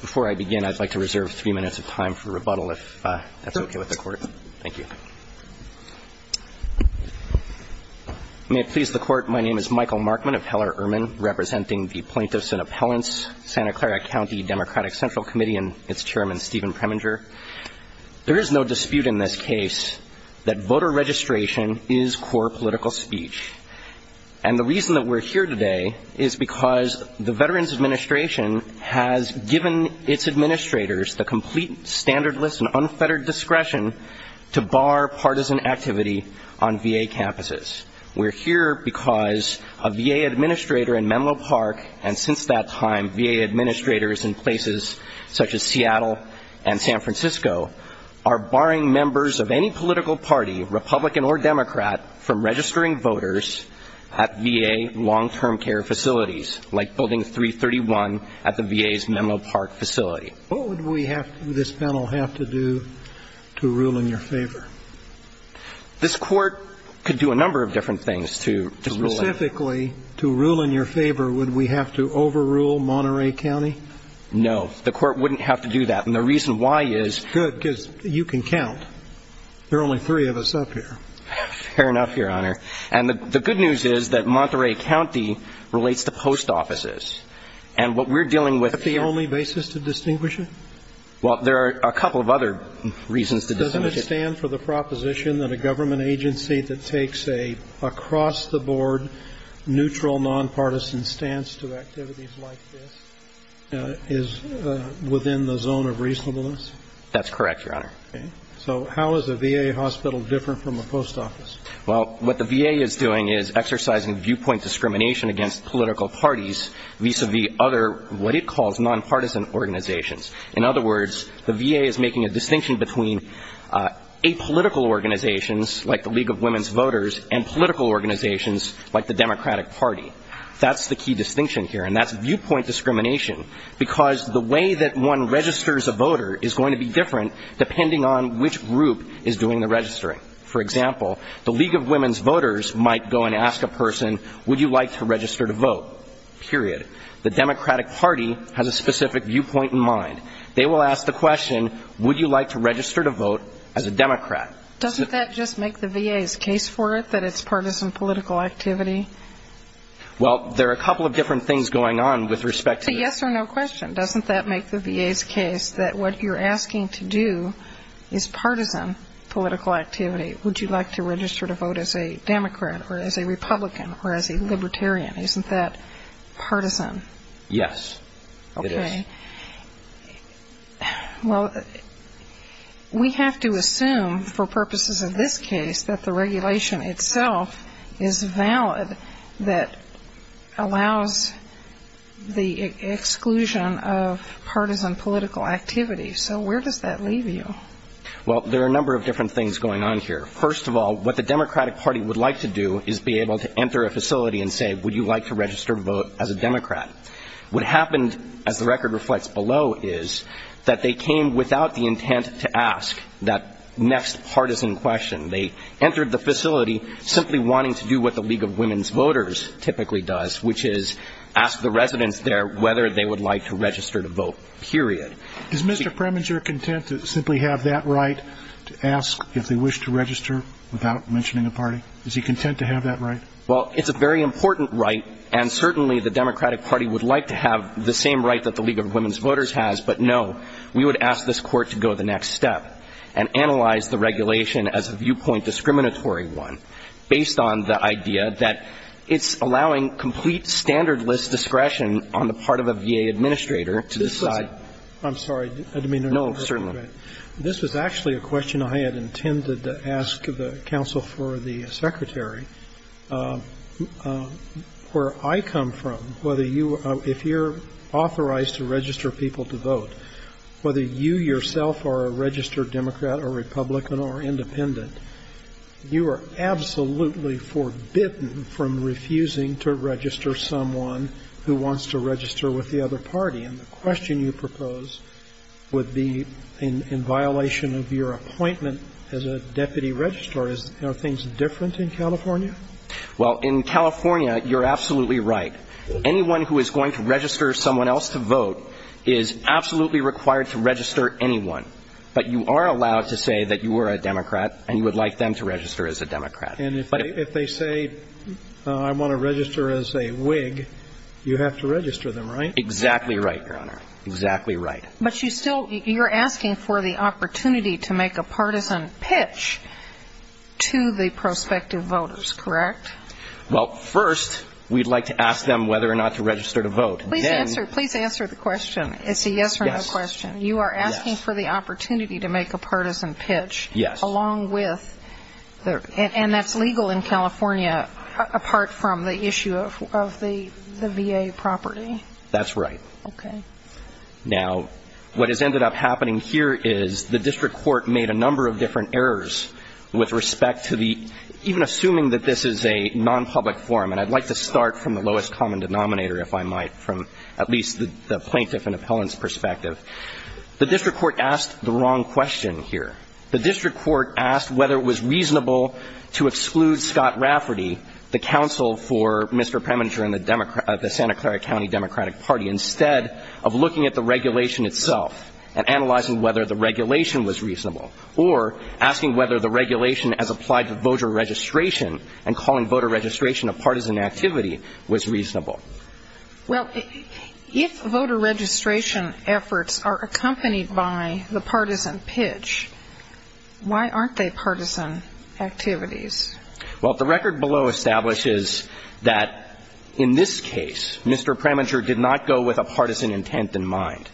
Before I begin, I'd like to reserve three minutes of time for rebuttal, if that's okay with the court. Thank you. May it please the court, my name is Michael Markman, appellar ermine, representing the Plaintiffs and Appellants, Santa Clara County Democratic Central Committee, and its chairman, Stephen Preminger. There is no dispute in this case that voter registration is core political speech. And the reason that we're here today is because the Veterans Administration has given its administrators the complete, standardless, and unfettered discretion to bar partisan activity on VA campuses. We're here because a VA administrator in Menlo Park, and since that time, VA administrators in places such as Seattle and San Francisco, are barring members of any political party, Republican or Democrat, from registering voters at VA long-term care facilities, like Building 331 at the VA's Menlo Park facility. What would this panel have to do to rule in your favor? This court could do a number of different things to rule in your favor. Specifically, to rule in your favor, would we have to overrule Monterey County? No, the court wouldn't have to do that. And the reason why is you can count. There are only three of us up here. Fair enough, Your Honor. And the good news is that Monterey County relates to post offices. And what we're dealing with here — Is that the only basis to distinguish it? Well, there are a couple of other reasons to distinguish it. Doesn't it stand for the proposition that a government agency that takes an across-the-board, neutral, nonpartisan stance to activities like this is within the zone of reasonableness? That's correct, Your Honor. Okay. So how is a VA hospital different from a post office? Well, what the VA is doing is exercising viewpoint discrimination against political parties vis-à-vis other what it calls nonpartisan organizations. In other words, the VA is making a distinction between apolitical organizations, like the League of Women's Voters, and political organizations, like the Democratic Party. That's the key distinction here, and that's viewpoint discrimination, because the way that one registers a voter is going to be different depending on which group is doing the registering. For example, the League of Women's Voters might go and ask a person, would you like to register to vote? Period. The Democratic Party has a specific viewpoint in mind. They will ask the question, would you like to register to vote as a Democrat? Doesn't that just make the VA's case for it, that it's partisan political activity? Well, there are a couple of different things going on with respect to this. It's a yes or no question. Doesn't that make the VA's case that what you're asking to do is partisan political activity? Would you like to register to vote as a Democrat or as a Republican or as a Libertarian? Isn't that partisan? Yes, it is. Okay. Well, we have to assume for purposes of this case that the regulation itself is valid that allows the exclusion of partisan political activity. So where does that leave you? Well, there are a number of different things going on here. First of all, what the Democratic Party would like to do is be able to enter a facility and say, would you like to register to vote as a Democrat? What happened, as the record reflects below, is that they came without the intent to ask that next partisan question. They entered the facility simply wanting to do what the League of Women Voters typically does, which is ask the residents there whether they would like to register to vote, period. Is Mr. Preminger content to simply have that right to ask if they wish to register without mentioning a party? Is he content to have that right? Well, it's a very important right, and certainly the Democratic Party would like to have the same right that the League of Women Voters has, but no. We would ask this Court to go the next step and analyze the regulation as a viewpoint discriminatory one based on the idea that it's allowing complete standardless discretion on the part of a VA administrator to decide. I'm sorry. I didn't mean to interrupt. No, certainly not. All right. This was actually a question I had intended to ask the counsel for the Secretary. Where I come from, whether you, if you're authorized to register people to vote, whether you yourself are a registered Democrat or Republican or independent, you are absolutely forbidden from refusing to register someone who wants to register with the other party. And the question you propose would be in violation of your appointment as a deputy registrar. Are things different in California? Well, in California, you're absolutely right. Anyone who is going to register someone else to vote is absolutely required to register anyone. But you are allowed to say that you are a Democrat and you would like them to register as a Democrat. And if they say I want to register as a Whig, you have to register them, right? Exactly right, Your Honor. Exactly right. But you still, you're asking for the opportunity to make a partisan pitch to the prospective voters, correct? Well, first, we'd like to ask them whether or not to register to vote. Please answer the question. It's a yes or no question. Yes. You are asking for the opportunity to make a partisan pitch. Yes. Along with, and that's legal in California, apart from the issue of the VA property. That's right. Okay. Now, what has ended up happening here is the district court made a number of different errors with respect to the, even assuming that this is a non-public forum, and I'd like to start from the lowest common denominator, if I might, from at least the plaintiff and appellant's perspective. The district court asked the wrong question here. The district court asked whether it was reasonable to exclude Scott Rafferty, the counsel for Mr. Preminger and the Santa Clara County Democratic Party, instead of looking at the regulation itself and analyzing whether the regulation was reasonable, or asking whether the regulation as applied to voter registration and calling voter registration a partisan activity was reasonable. Well, if voter registration efforts are accompanied by the partisan pitch, why aren't they partisan activities? Well, the record below establishes that in this case, Mr. Preminger did not go with a partisan intent in mind.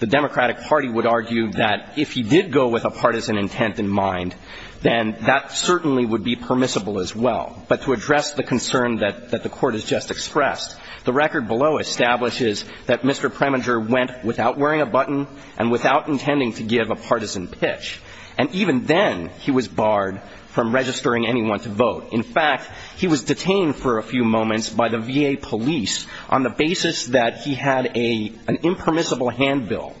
The Democratic Party would argue that if he did go with a partisan intent in mind, then that certainly would be permissible as well. But to address the concern that the Court has just expressed, the record below establishes that Mr. Preminger went without wearing a button and without intending to give a partisan pitch, and even then he was barred from registering anyone to vote. In fact, he was detained for a few moments by the VA police on the basis that he had an impermissible handbill,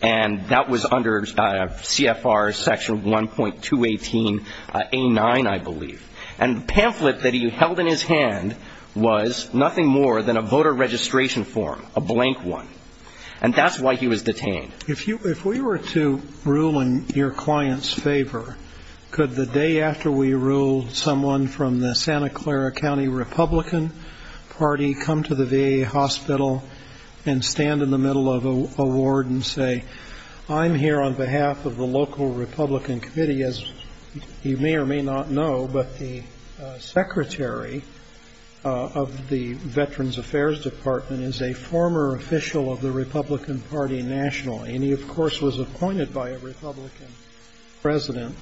and that was under CFR section 1.218A9, I believe. And the pamphlet that he held in his hand was nothing more than a voter registration form, a blank one. And that's why he was detained. If we were to rule in your client's favor, could the day after we ruled someone from the Santa Clara County Republican Party come to the VA hospital and stand in the middle of a ward and say, I'm here on behalf of the local Republican committee, as you may or may not know, but the secretary of the Veterans Affairs Department is a former official of the Republican Party nationally. And he, of course, was appointed by a Republican president.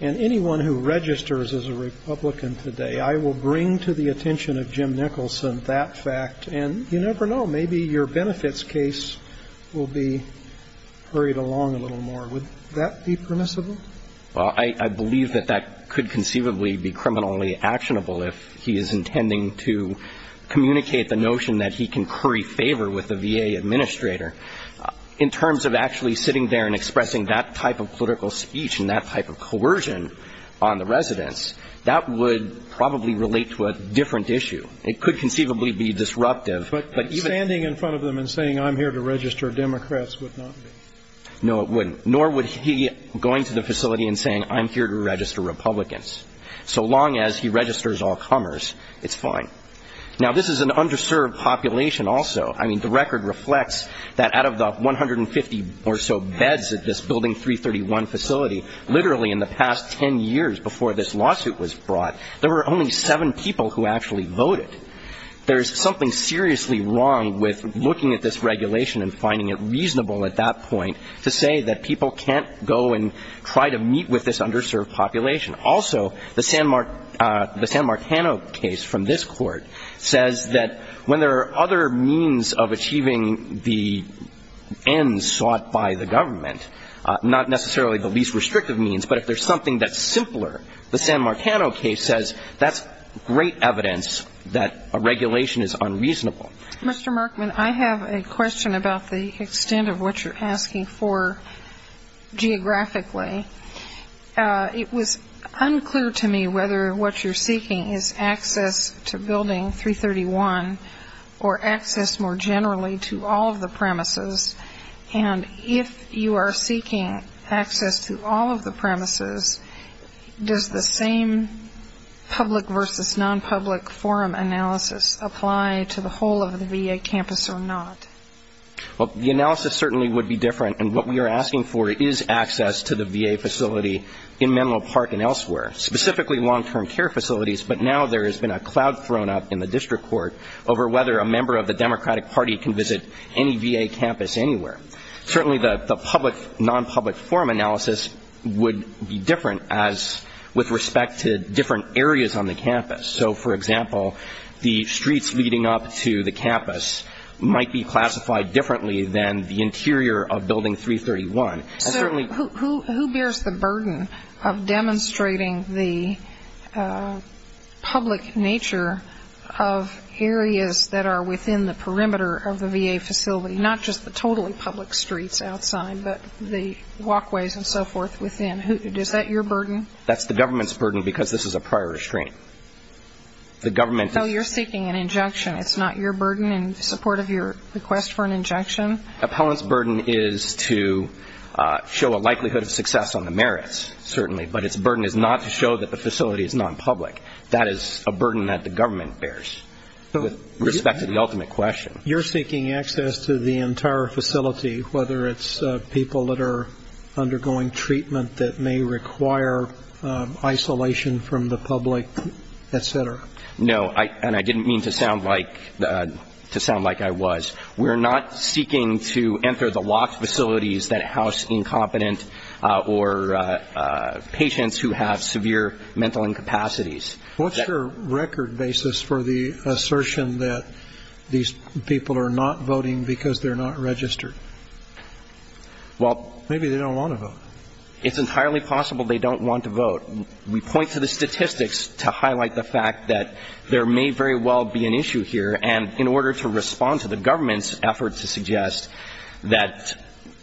And anyone who registers as a Republican today, I will bring to the attention of Jim Nicholson that fact. And you never know. Maybe your benefits case will be hurried along a little more. Would that be permissible? Well, I believe that that could conceivably be criminally actionable if he is intending to communicate the notion that he can curry favor with the VA administrator. In terms of actually sitting there and expressing that type of political speech and that type of coercion on the residents, that would probably relate to a different issue. It could conceivably be disruptive. But even ---- But standing in front of them and saying, I'm here to register Democrats would not be. No, it wouldn't. Nor would he going to the facility and saying, I'm here to register Republicans. So long as he registers all comers, it's fine. Now, this is an underserved population also. I mean, the record reflects that out of the 150 or so beds at this Building 331 facility, literally in the past 10 years before this lawsuit was brought, there were only seven people who actually voted. There is something seriously wrong with looking at this regulation and finding it reasonable at that point to say that people can't go and try to meet with this underserved population. Also, the San Marcano case from this Court says that when there are other means of achieving the ends sought by the government, not necessarily the least restrictive means, but if there's something that's simpler, the San Marcano case says that's great evidence that a regulation is unreasonable. Mr. Markman, I have a question about the extent of what you're asking for geographically. It was unclear to me whether what you're seeking is access to Building 331 or access more generally to all of the premises. And if you are seeking access to all of the premises, does the same public versus non-public forum analysis apply to the whole of the VA campus or not? Well, the analysis certainly would be different. And what we are asking for is access to the VA facility in Menlo Park and elsewhere, specifically long-term care facilities. But now there has been a cloud thrown up in the district court over whether a member of the Democratic Party can visit any VA campus anywhere. Certainly the public, non-public forum analysis would be different as with respect to different areas on the campus. So, for example, the streets leading up to the campus might be classified differently than the interior of Building 331. So who bears the burden of demonstrating the public nature of areas that are within the perimeter of the VA facility, not just the totally public streets outside, but the walkways and so forth within? Is that your burden? That's the government's burden because this is a prior restraint. So you're seeking an injection. It's not your burden in support of your request for an injection? Appellant's burden is to show a likelihood of success on the merits, certainly. But its burden is not to show that the facility is non-public. That is a burden that the government bears with respect to the ultimate question. You're seeking access to the entire facility, whether it's people that are undergoing treatment that may require isolation from the public, et cetera. No, and I didn't mean to sound like I was. We're not seeking to enter the locked facilities that house incompetent or patients who have severe mental incapacities. What's your record basis for the assertion that these people are not voting because they're not registered? Maybe they don't want to vote. It's entirely possible they don't want to vote. We point to the statistics to highlight the fact that there may very well be an issue here, and in order to respond to the government's efforts to suggest that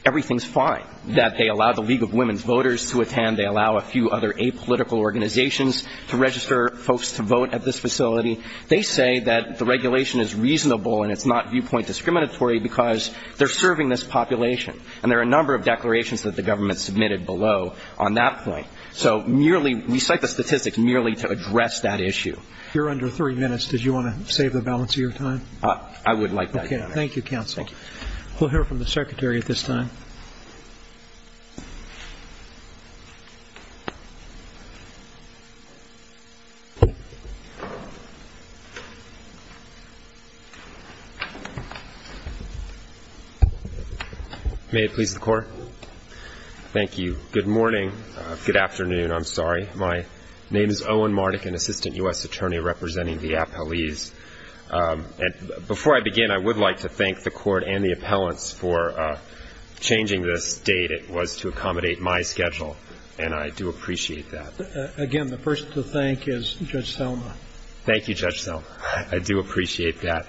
everything is fine, that they allow the League of Women Voters to attend, they allow a few other apolitical organizations to register folks to vote at this facility. They say that the regulation is reasonable and it's not viewpoint discriminatory because they're serving this population. And there are a number of declarations that the government submitted below on that point. So merely we cite the statistics merely to address that issue. You're under three minutes. Did you want to save the balance of your time? Okay. Thank you, counsel. We'll hear from the Secretary at this time. May it please the Court. Thank you. Good morning. Good afternoon. I'm sorry. My name is Owen Mardik, an assistant U.S. attorney representing the appellees. Before I begin, I would like to thank the Court and the appellants for changing this date. It was to accommodate my schedule, and I do appreciate that. Again, the first to thank is Judge Selma. Thank you, Judge Selma. I do appreciate that.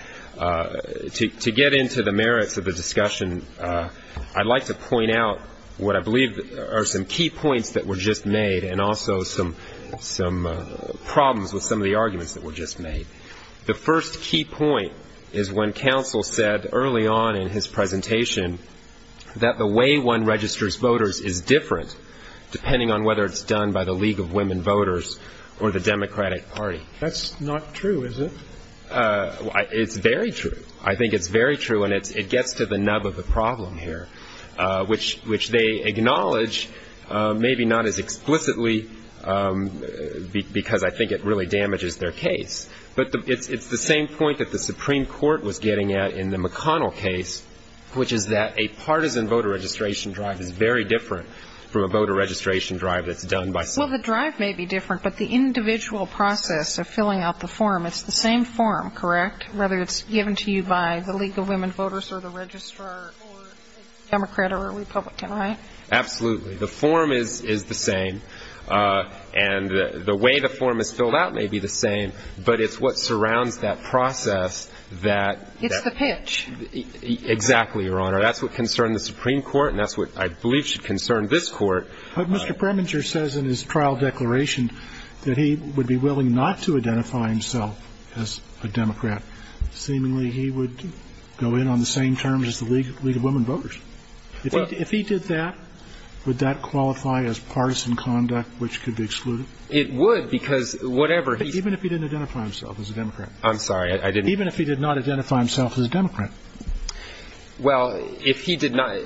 To get into the merits of the discussion, I'd like to point out what I believe are some key points that were just made and also some problems with some of the arguments that were just made. The first key point is when counsel said early on in his presentation that the way one registers voters is different depending on whether it's done by the League of Women Voters or the Democratic Party. That's not true, is it? It's very true. I think it's very true, and it gets to the nub of the problem here, which they acknowledge maybe not as explicitly because I think it really damages their case. But it's the same point that the Supreme Court was getting at in the McConnell case, which is that a partisan voter registration drive is very different from a voter registration drive that's done by someone else. Well, the drive may be different, but the individual process of filling out the form, it's the same form, correct? Whether it's given to you by the League of Women Voters or the registrar or Democrat or Republican, right? Absolutely. The form is the same, and the way the form is filled out may be the same, but it's what surrounds that process that — It's the pitch. Exactly, Your Honor. That's what concerned the Supreme Court, and that's what I believe should concern this Court. But Mr. Preminger says in his trial declaration that he would be willing not to identify himself as a Democrat. Seemingly, he would go in on the same terms as the League of Women Voters. If he did that, would that qualify as partisan conduct which could be excluded? It would, because whatever he — Even if he didn't identify himself as a Democrat. I'm sorry, I didn't — Even if he did not identify himself as a Democrat. Well, if he did not —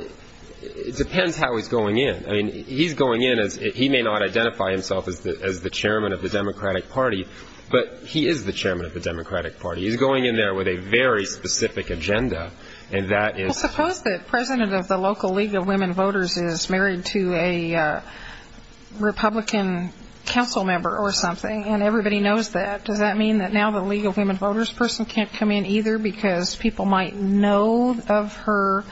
it depends how he's going in. I mean, he's going in as — he may not identify himself as the chairman of the Democratic Party, but he is the chairman of the Democratic Party. He's going in there with a very specific agenda, and that is — Well, suppose the president of the local League of Women Voters is married to a Republican council member or something, and everybody knows that. Does that mean that now the League of Women Voters person can't come in either because people might know of her,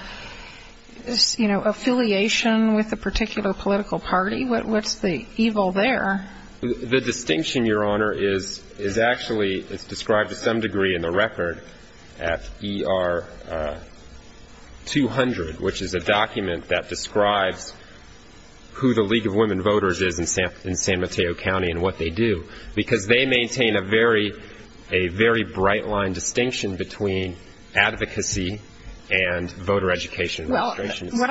you know, affiliation with a particular political party? What's the evil there? The distinction, Your Honor, is actually described to some degree in the record at ER 200, which is a document that describes who the League of Women Voters is in San Mateo County and what they do, because they maintain a very bright-line distinction between advocacy and voter education administration. Well,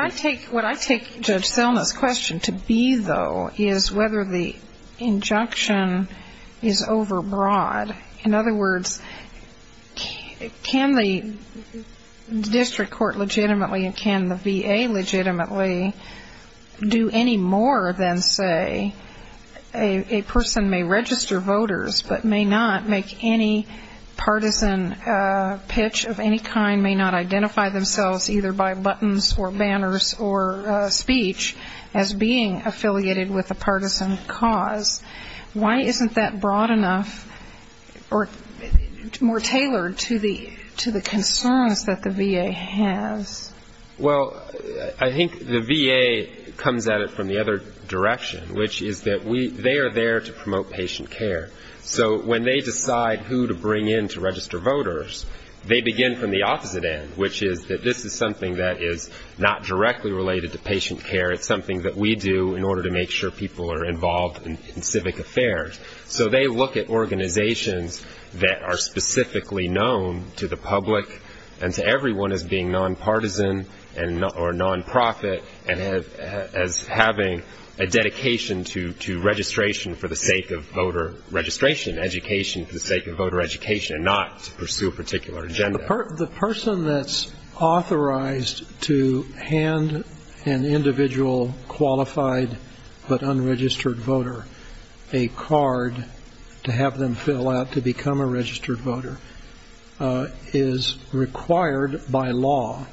what I take Judge Selma's question to be, though, is whether the injunction is overbroad. In other words, can the district court legitimately and can the VA legitimately do any more than say a person may register voters but may not make any partisan pitch of any kind, may not identify themselves either by buttons or banners or speech as being affiliated with a partisan cause? Why isn't that broad enough or more tailored to the concerns that the VA has? Well, I think the VA comes at it from the other direction, which is that they are there to promote patient care. So when they decide who to bring in to register voters, they begin from the opposite end, which is that this is something that is not directly related to patient care. It's something that we do in order to make sure people are involved in civic affairs. So they look at organizations that are specifically known to the public and to everyone as being for the sake of voter education and not to pursue a particular agenda. The person that's authorized to hand an individual qualified but unregistered voter a card to have them fill out to become a registered voter is required by law,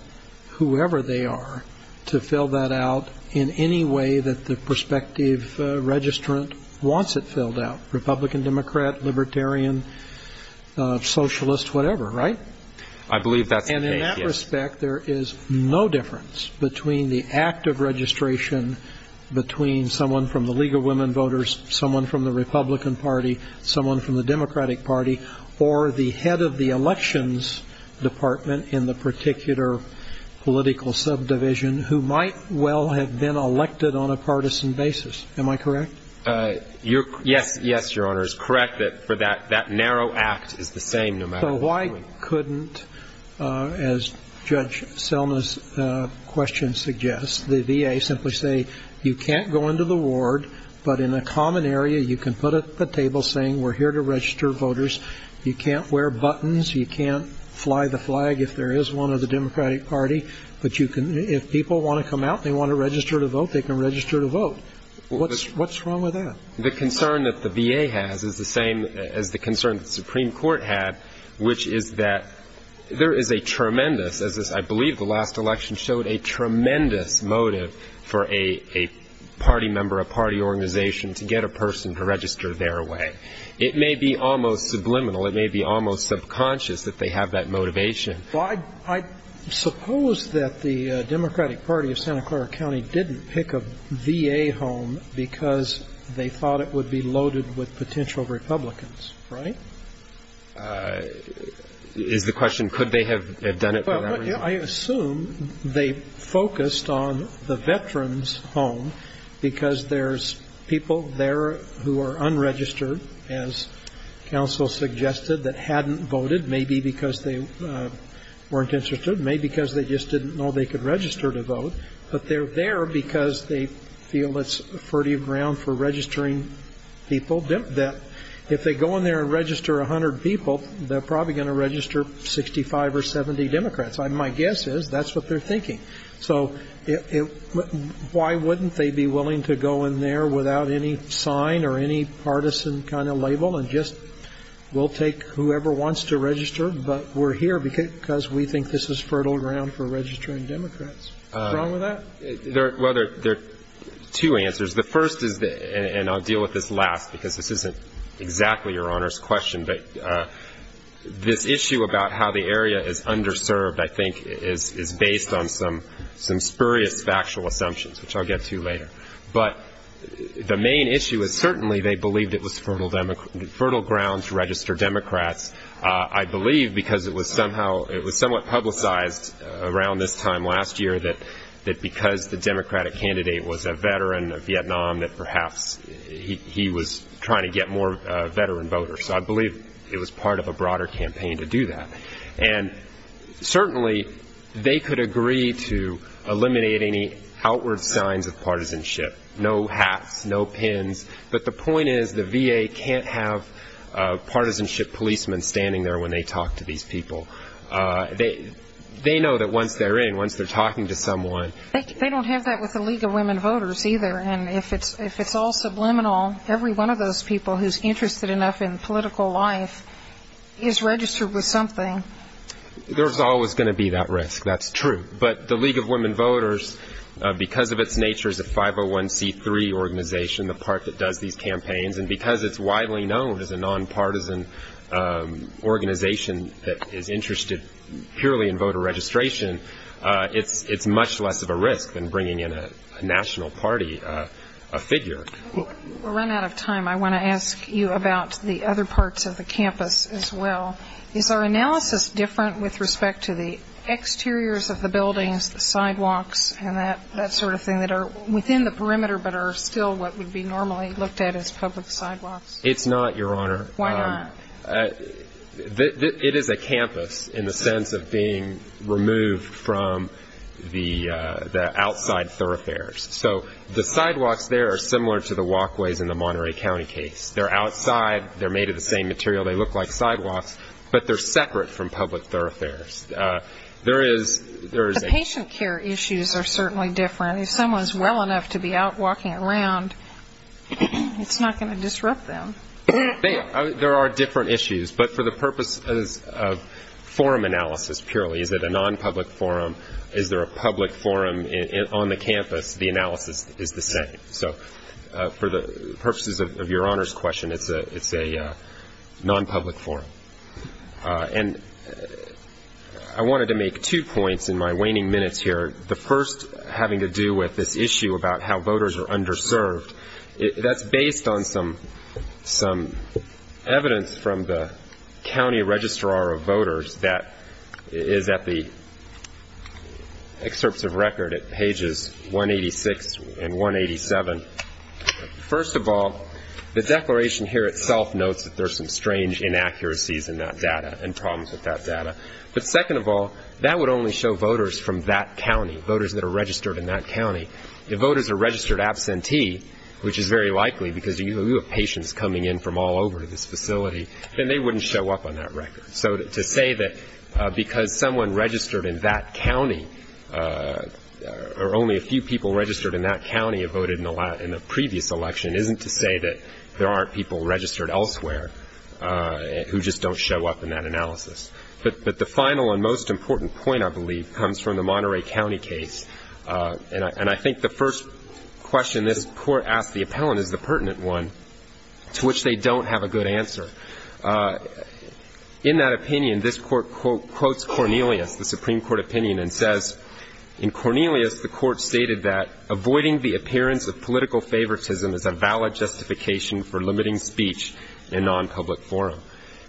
whoever they are, to fill that out in any way that the person is authorized to do. So they're not going to be a Democrat, Libertarian, Socialist, whatever, right? I believe that's the case, yes. And in that respect, there is no difference between the act of registration between someone from the League of Women Voters, someone from the Republican Party, someone from the Democratic Party, or the head of the So why couldn't, as Judge Selma's question suggests, the VA simply say you can't go into the ward, but in a common area you can put up a table saying we're here to register voters. You can't wear buttons. You can't fly the flag if there is one of the Democratic Party. But if people want to come out and they want to register to vote, they can register to vote. What's wrong with that? The concern that the VA has is the same as the concern that the Supreme Court had, which is that there is a tremendous, as I believe the last election showed, a tremendous motive for a party member, a party organization to get a person to register their way. It may be almost subliminal. It may be almost subconscious that they have that motivation. Well, I suppose that the Democratic Party of Santa Clara County didn't pick a VA home because they thought it would be loaded with potential Republicans, right? Is the question could they have done it for that reason? Well, I assume they focused on the veterans' home because there's people there who are unregistered, as counsel suggested, that hadn't voted, maybe because they weren't interested, maybe because they just didn't know they could register to vote, but they're there because they feel it's fertile ground for registering people. If they go in there and register 100 people, they're probably going to register 65 or 70 Democrats. My guess is that's what they're thinking. So why wouldn't they be willing to go in there without any sign or any partisan kind of label and just we'll take whoever wants to register, but we're here because we think this is fertile ground for registering Democrats. What's wrong with that? Well, there are two answers. The first is, and I'll deal with this last because this isn't exactly Your Honor's question, but this issue about how the area is underserved I think is based on some spurious factual assumptions, which I'll get to later. But the main issue is certainly they believed it was fertile ground to register Democrats. I believe because it was somewhat publicized around this time last year that because the Democratic candidate was a veteran of Vietnam that perhaps he was trying to get more veteran voters. So I believe it was part of a broader campaign to do that. And certainly they could agree to eliminate any outward signs of partisanship, no hats, no pins, but the point is the VA can't have partisanship policemen standing there when they talk to these people. They know that once they're in, once they're talking to someone. They don't have that with the League of Women Voters either. And if it's all subliminal, every one of those people who's interested enough in political life is registered with something. There's always going to be that risk, that's true. But the League of Women Voters, because of its nature as a 501C3 organization, the part that does these campaigns, and because it's widely known as a nonpartisan organization that is interested purely in voter registration, it's much less of a risk than bringing in a national party figure. We're running out of time. I want to ask you about the other parts of the campus as well. Is our analysis different with respect to the exteriors of the buildings, the sidewalks and that sort of thing that are within the perimeter but are still what would be normally looked at as public sidewalks? No, they're not, Your Honor. Why not? It is a campus in the sense of being removed from the outside thoroughfares. So the sidewalks there are similar to the walkways in the Monterey County case. They're outside, they're made of the same material, they look like sidewalks, but they're separate from public thoroughfares. The patient care issues are certainly different. If someone's well enough to be out walking around, it's not going to disrupt them. There are different issues, but for the purposes of forum analysis purely, is it a nonpublic forum, is there a public forum on the campus, the analysis is the same. So for the purposes of Your Honor's question, it's a nonpublic forum. And I wanted to make two points in my waning minutes here, the first having to do with this issue about how voters are underserved. That's based on some evidence from the county registrar of voters that is at the excerpts of record at pages 186 and 187. First of all, the declaration here itself notes that there's some strange inaccuracies in that data and problems with that data. But second of all, that would only show voters from that county, voters that are registered in that county. If voters are registered absentee, which is very likely because you have patients coming in from all over to this facility, then they wouldn't show up on that record. So to say that because someone registered in that county, or only a few people registered in that county have voted in that record, that's not true. And to say that there are people registered in that county in a previous election isn't to say that there aren't people registered elsewhere who just don't show up in that analysis. But the final and most important point, I believe, comes from the Monterey County case. And I think the first question this Court asked the appellant is the pertinent one, to which they don't have a good answer. In that opinion, this Court quotes Cornelius, the Supreme Court opinion, and says, in Cornelius, the Court stated that avoiding the appearance of political favoritism is a valid justification for limiting speech in nonpublic forum.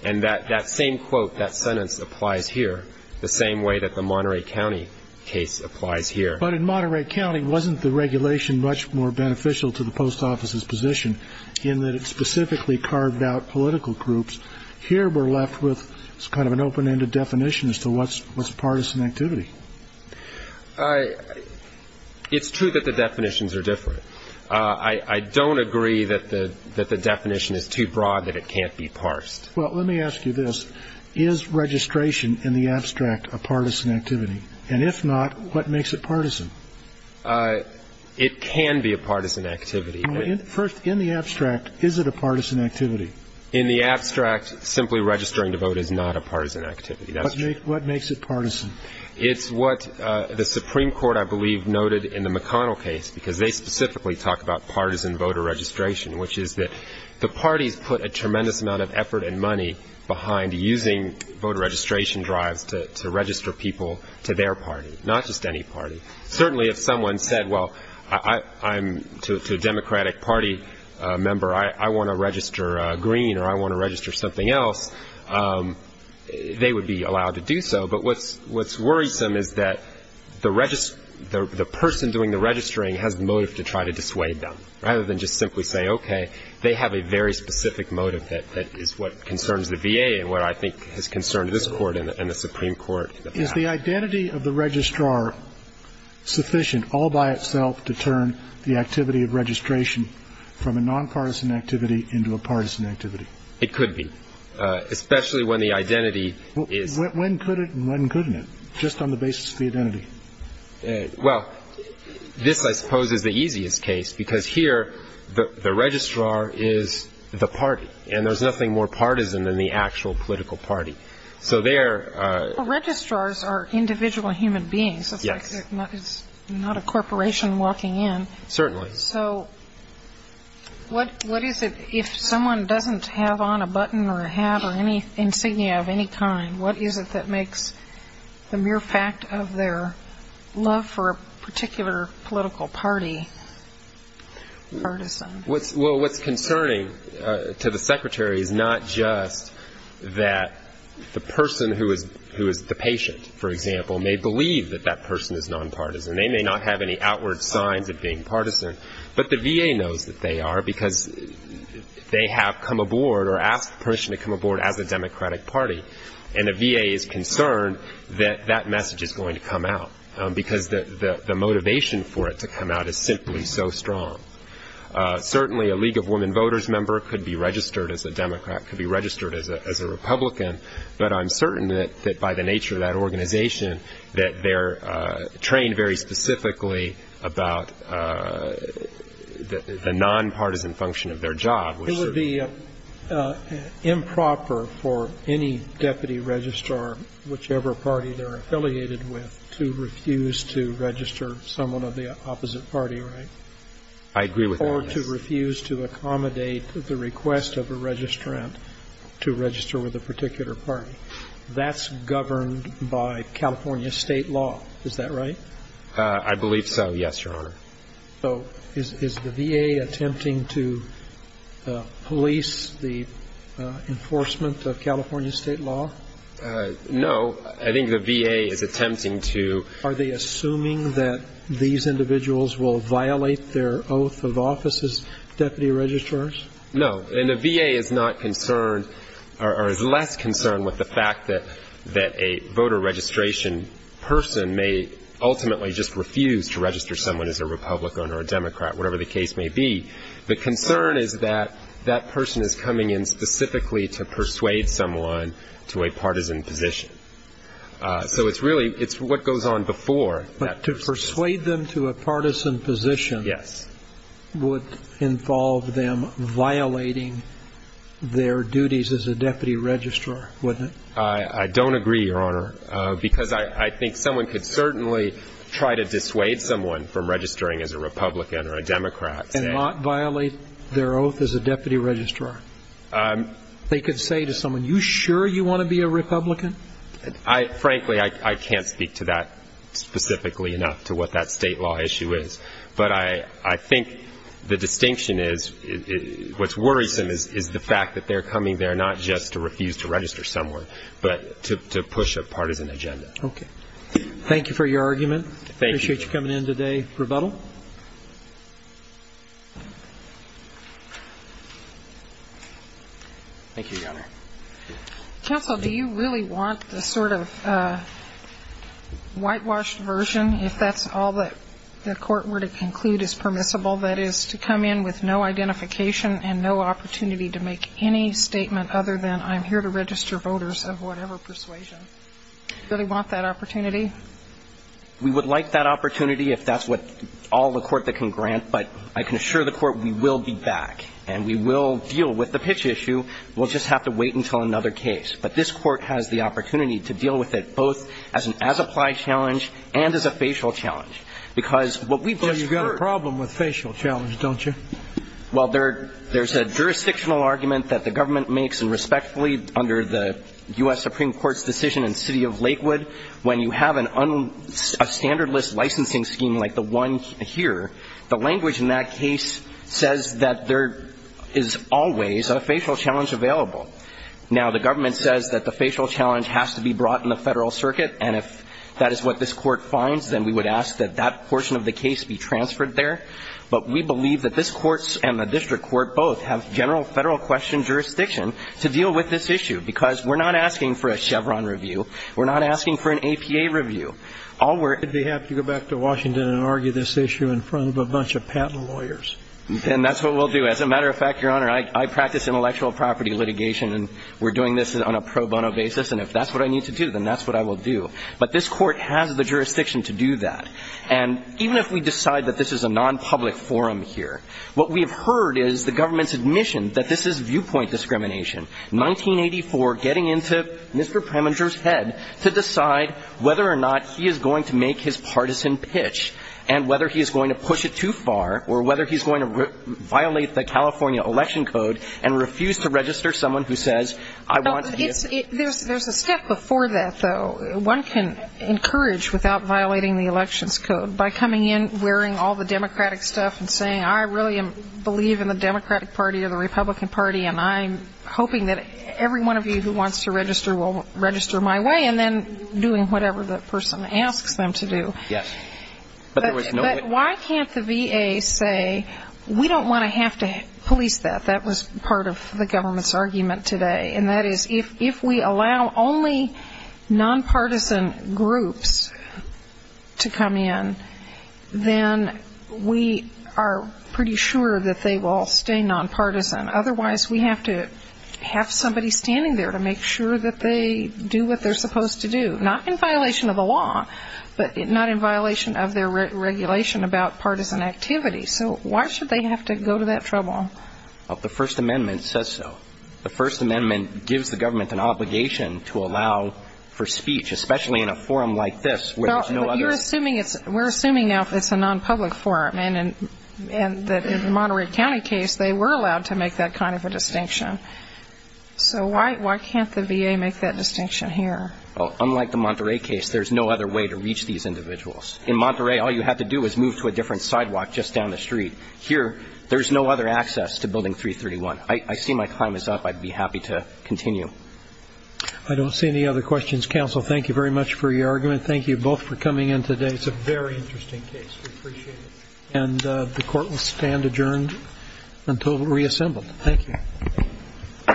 And that same quote, that sentence applies here the same way that the Monterey County case applies here. But in Monterey County, wasn't the regulation much more beneficial to the post office's position in that it specifically carved out political groups? Here we're left with kind of an open-ended definition as to what's partisan activity. It's true that the definitions are different. I don't agree that the definition is too broad that it can't be parsed. Well, let me ask you this. Is registration in the abstract a partisan activity? And if not, what makes it partisan? It can be a partisan activity. First, in the abstract, is it a partisan activity? In the abstract, simply registering to vote is not a partisan activity. That's true. What makes it partisan? It's what the Supreme Court, I believe, noted in the McConnell case, because they specifically talk about partisan voter registration, which is that the parties put a tremendous amount of effort and money behind using voter registration drives to register people to their party, not just any party. Certainly if someone said, well, I'm a Democratic Party member. I want to register green or I want to register something else, they would be allowed to do so. But what's worrisome is that the person doing the registering has the motive to try to dissuade them, rather than just simply say, okay, they have a very specific motive that is what concerns the VA and what I think has concerned this Court and the Supreme Court. Is the identity of the registrar sufficient all by itself to turn the activity of registration from a nonpartisan activity to a partisan activity? It could be, especially when the identity is... When could it and when couldn't it, just on the basis of the identity? Well, this, I suppose, is the easiest case, because here the registrar is the party, and there's nothing more partisan than the actual political party. So there... Well, registrars are individual human beings. Yes. It's not a corporation walking in. Certainly. So what is it, if someone doesn't have on a button or a hat or any insignia of any kind, what is it that makes the mere fact of their love for a particular political party partisan? Well, what's concerning to the secretary is not just that the person who is the patient, for example, may believe that that person is nonpartisan. They may not have any outward signs of being partisan, but the VA knows that they are, because they have come aboard or asked permission to come aboard as a Democratic Party, and the VA is concerned that that message is going to come out, because the motivation for it to come out is simply so strong. Certainly, a League of Women Voters member could be registered as a Democrat, could be registered as a Republican, but I'm certain that by the nature of that organization, that they're trained very specifically about the nonpartisan function of their job. It would be improper for any deputy registrar, whichever party they're affiliated with, to refuse to register someone of the opposite party, right? I agree with that. Or to refuse to accommodate the request of a registrant to register with a particular party. That's governed by California state law, is that right? I believe so, yes, Your Honor. So is the VA attempting to police the enforcement of California state law? No. I think the VA is attempting to. Are they assuming that these individuals will violate their oath of office as deputy registrars? No. And the VA is not concerned or is less concerned with the fact that a voter registration person may ultimately just refuse to register someone as a Republican or a Democrat, whatever the case may be. The concern is that that person is coming in specifically to persuade someone to a partisan position. So it's really, it's what goes on before. But to persuade them to a partisan position would involve them violating their duties as a deputy registrar, wouldn't it? I don't agree, Your Honor, because I think someone could certainly try to dissuade someone from registering as a Republican or a Democrat. And not violate their oath as a deputy registrar. They could say to someone, you sure you want to be a Republican? Frankly, I can't speak to that specifically enough, to what that state law issue is. But I think the distinction is what's worrisome is the fact that they're coming there not just to refuse to register someone, but to push a partisan agenda. Okay. Thank you for your argument. Thank you. Appreciate you coming in today. Rebuttal? Thank you, Your Honor. Counsel, do you really want the sort of whitewashed version, if that's all that the court were to conclude is permissible, that is to come in with no identification and no opportunity to make any statement other than I'm here to register voters of whatever persuasion? Do you really want that opportunity? We would like that opportunity if that's what all the court that can grant. But I can assure the court we will be back. And we will deal with the pitch issue. We'll just have to wait until another case. But this Court has the opportunity to deal with it both as an as-applied challenge and as a facial challenge. Because what we've just heard You've got a problem with facial challenge, don't you? Well, there's a jurisdictional argument that the government makes, and respectfully, under the U.S. Supreme Court's decision in the city of Lakewood, when you have a standardless licensing scheme like the one here, the language in that case says that there is always a facial challenge available. Now, the government says that the facial challenge has to be brought in the federal circuit, and if that is what this Court finds, then we would ask that that portion of the case be transferred there. But we believe that this Court and the district court both have general federal question jurisdiction to deal with this issue. Because we're not asking for a Chevron review. We're not asking for an APA review. All we're If they have to go back to Washington and argue this issue in front of a bunch of patent lawyers. And that's what we'll do. As a matter of fact, Your Honor, I practice intellectual property litigation, and we're doing this on a pro bono basis. And if that's what I need to do, then that's what I will do. But this Court has the jurisdiction to do that. And even if we decide that this is a nonpublic forum here, what we have heard is the government's admission that this is viewpoint discrimination. 1984, getting into Mr. Preminger's head to decide whether or not he is going to make his partisan pitch and whether he is going to push it too far or whether he's going to violate the California election code and refuse to register someone who says, I want to be a citizen. There's a step before that, though. One can encourage without violating the elections code by coming in, wearing all the Democratic stuff and saying, I really believe in the Democratic Party or the Republican Party, and I'm hoping that every one of you who wants to register will register my way, and then doing whatever the person asks them to do. Yes. But why can't the VA say, we don't want to have to police that? That was part of the government's argument today. And that is, if we allow only nonpartisan groups to come in, then we are pretty sure that they will stay nonpartisan. Otherwise, we have to have somebody standing there to make sure that they do what they're supposed to do, not in violation of the law, but not in violation of their regulation about partisan activity. So why should they have to go to that trouble? The First Amendment says so. The First Amendment gives the government an obligation to allow for speech, especially in a forum like this where there's no other ---- But you're assuming it's ñ we're assuming now it's a nonpublic forum, and in the Monterey County case, they were allowed to make that kind of a distinction. So why can't the VA make that distinction here? Well, unlike the Monterey case, there's no other way to reach these individuals. In Monterey, all you have to do is move to a different sidewalk just down the street. Here, there's no other access to Building 331. I see my time is up. I'd be happy to continue. I don't see any other questions. Counsel, thank you very much for your argument. Thank you both for coming in today. It's a very interesting case. We appreciate it. And the Court will stand adjourned until reassembled. Thank you.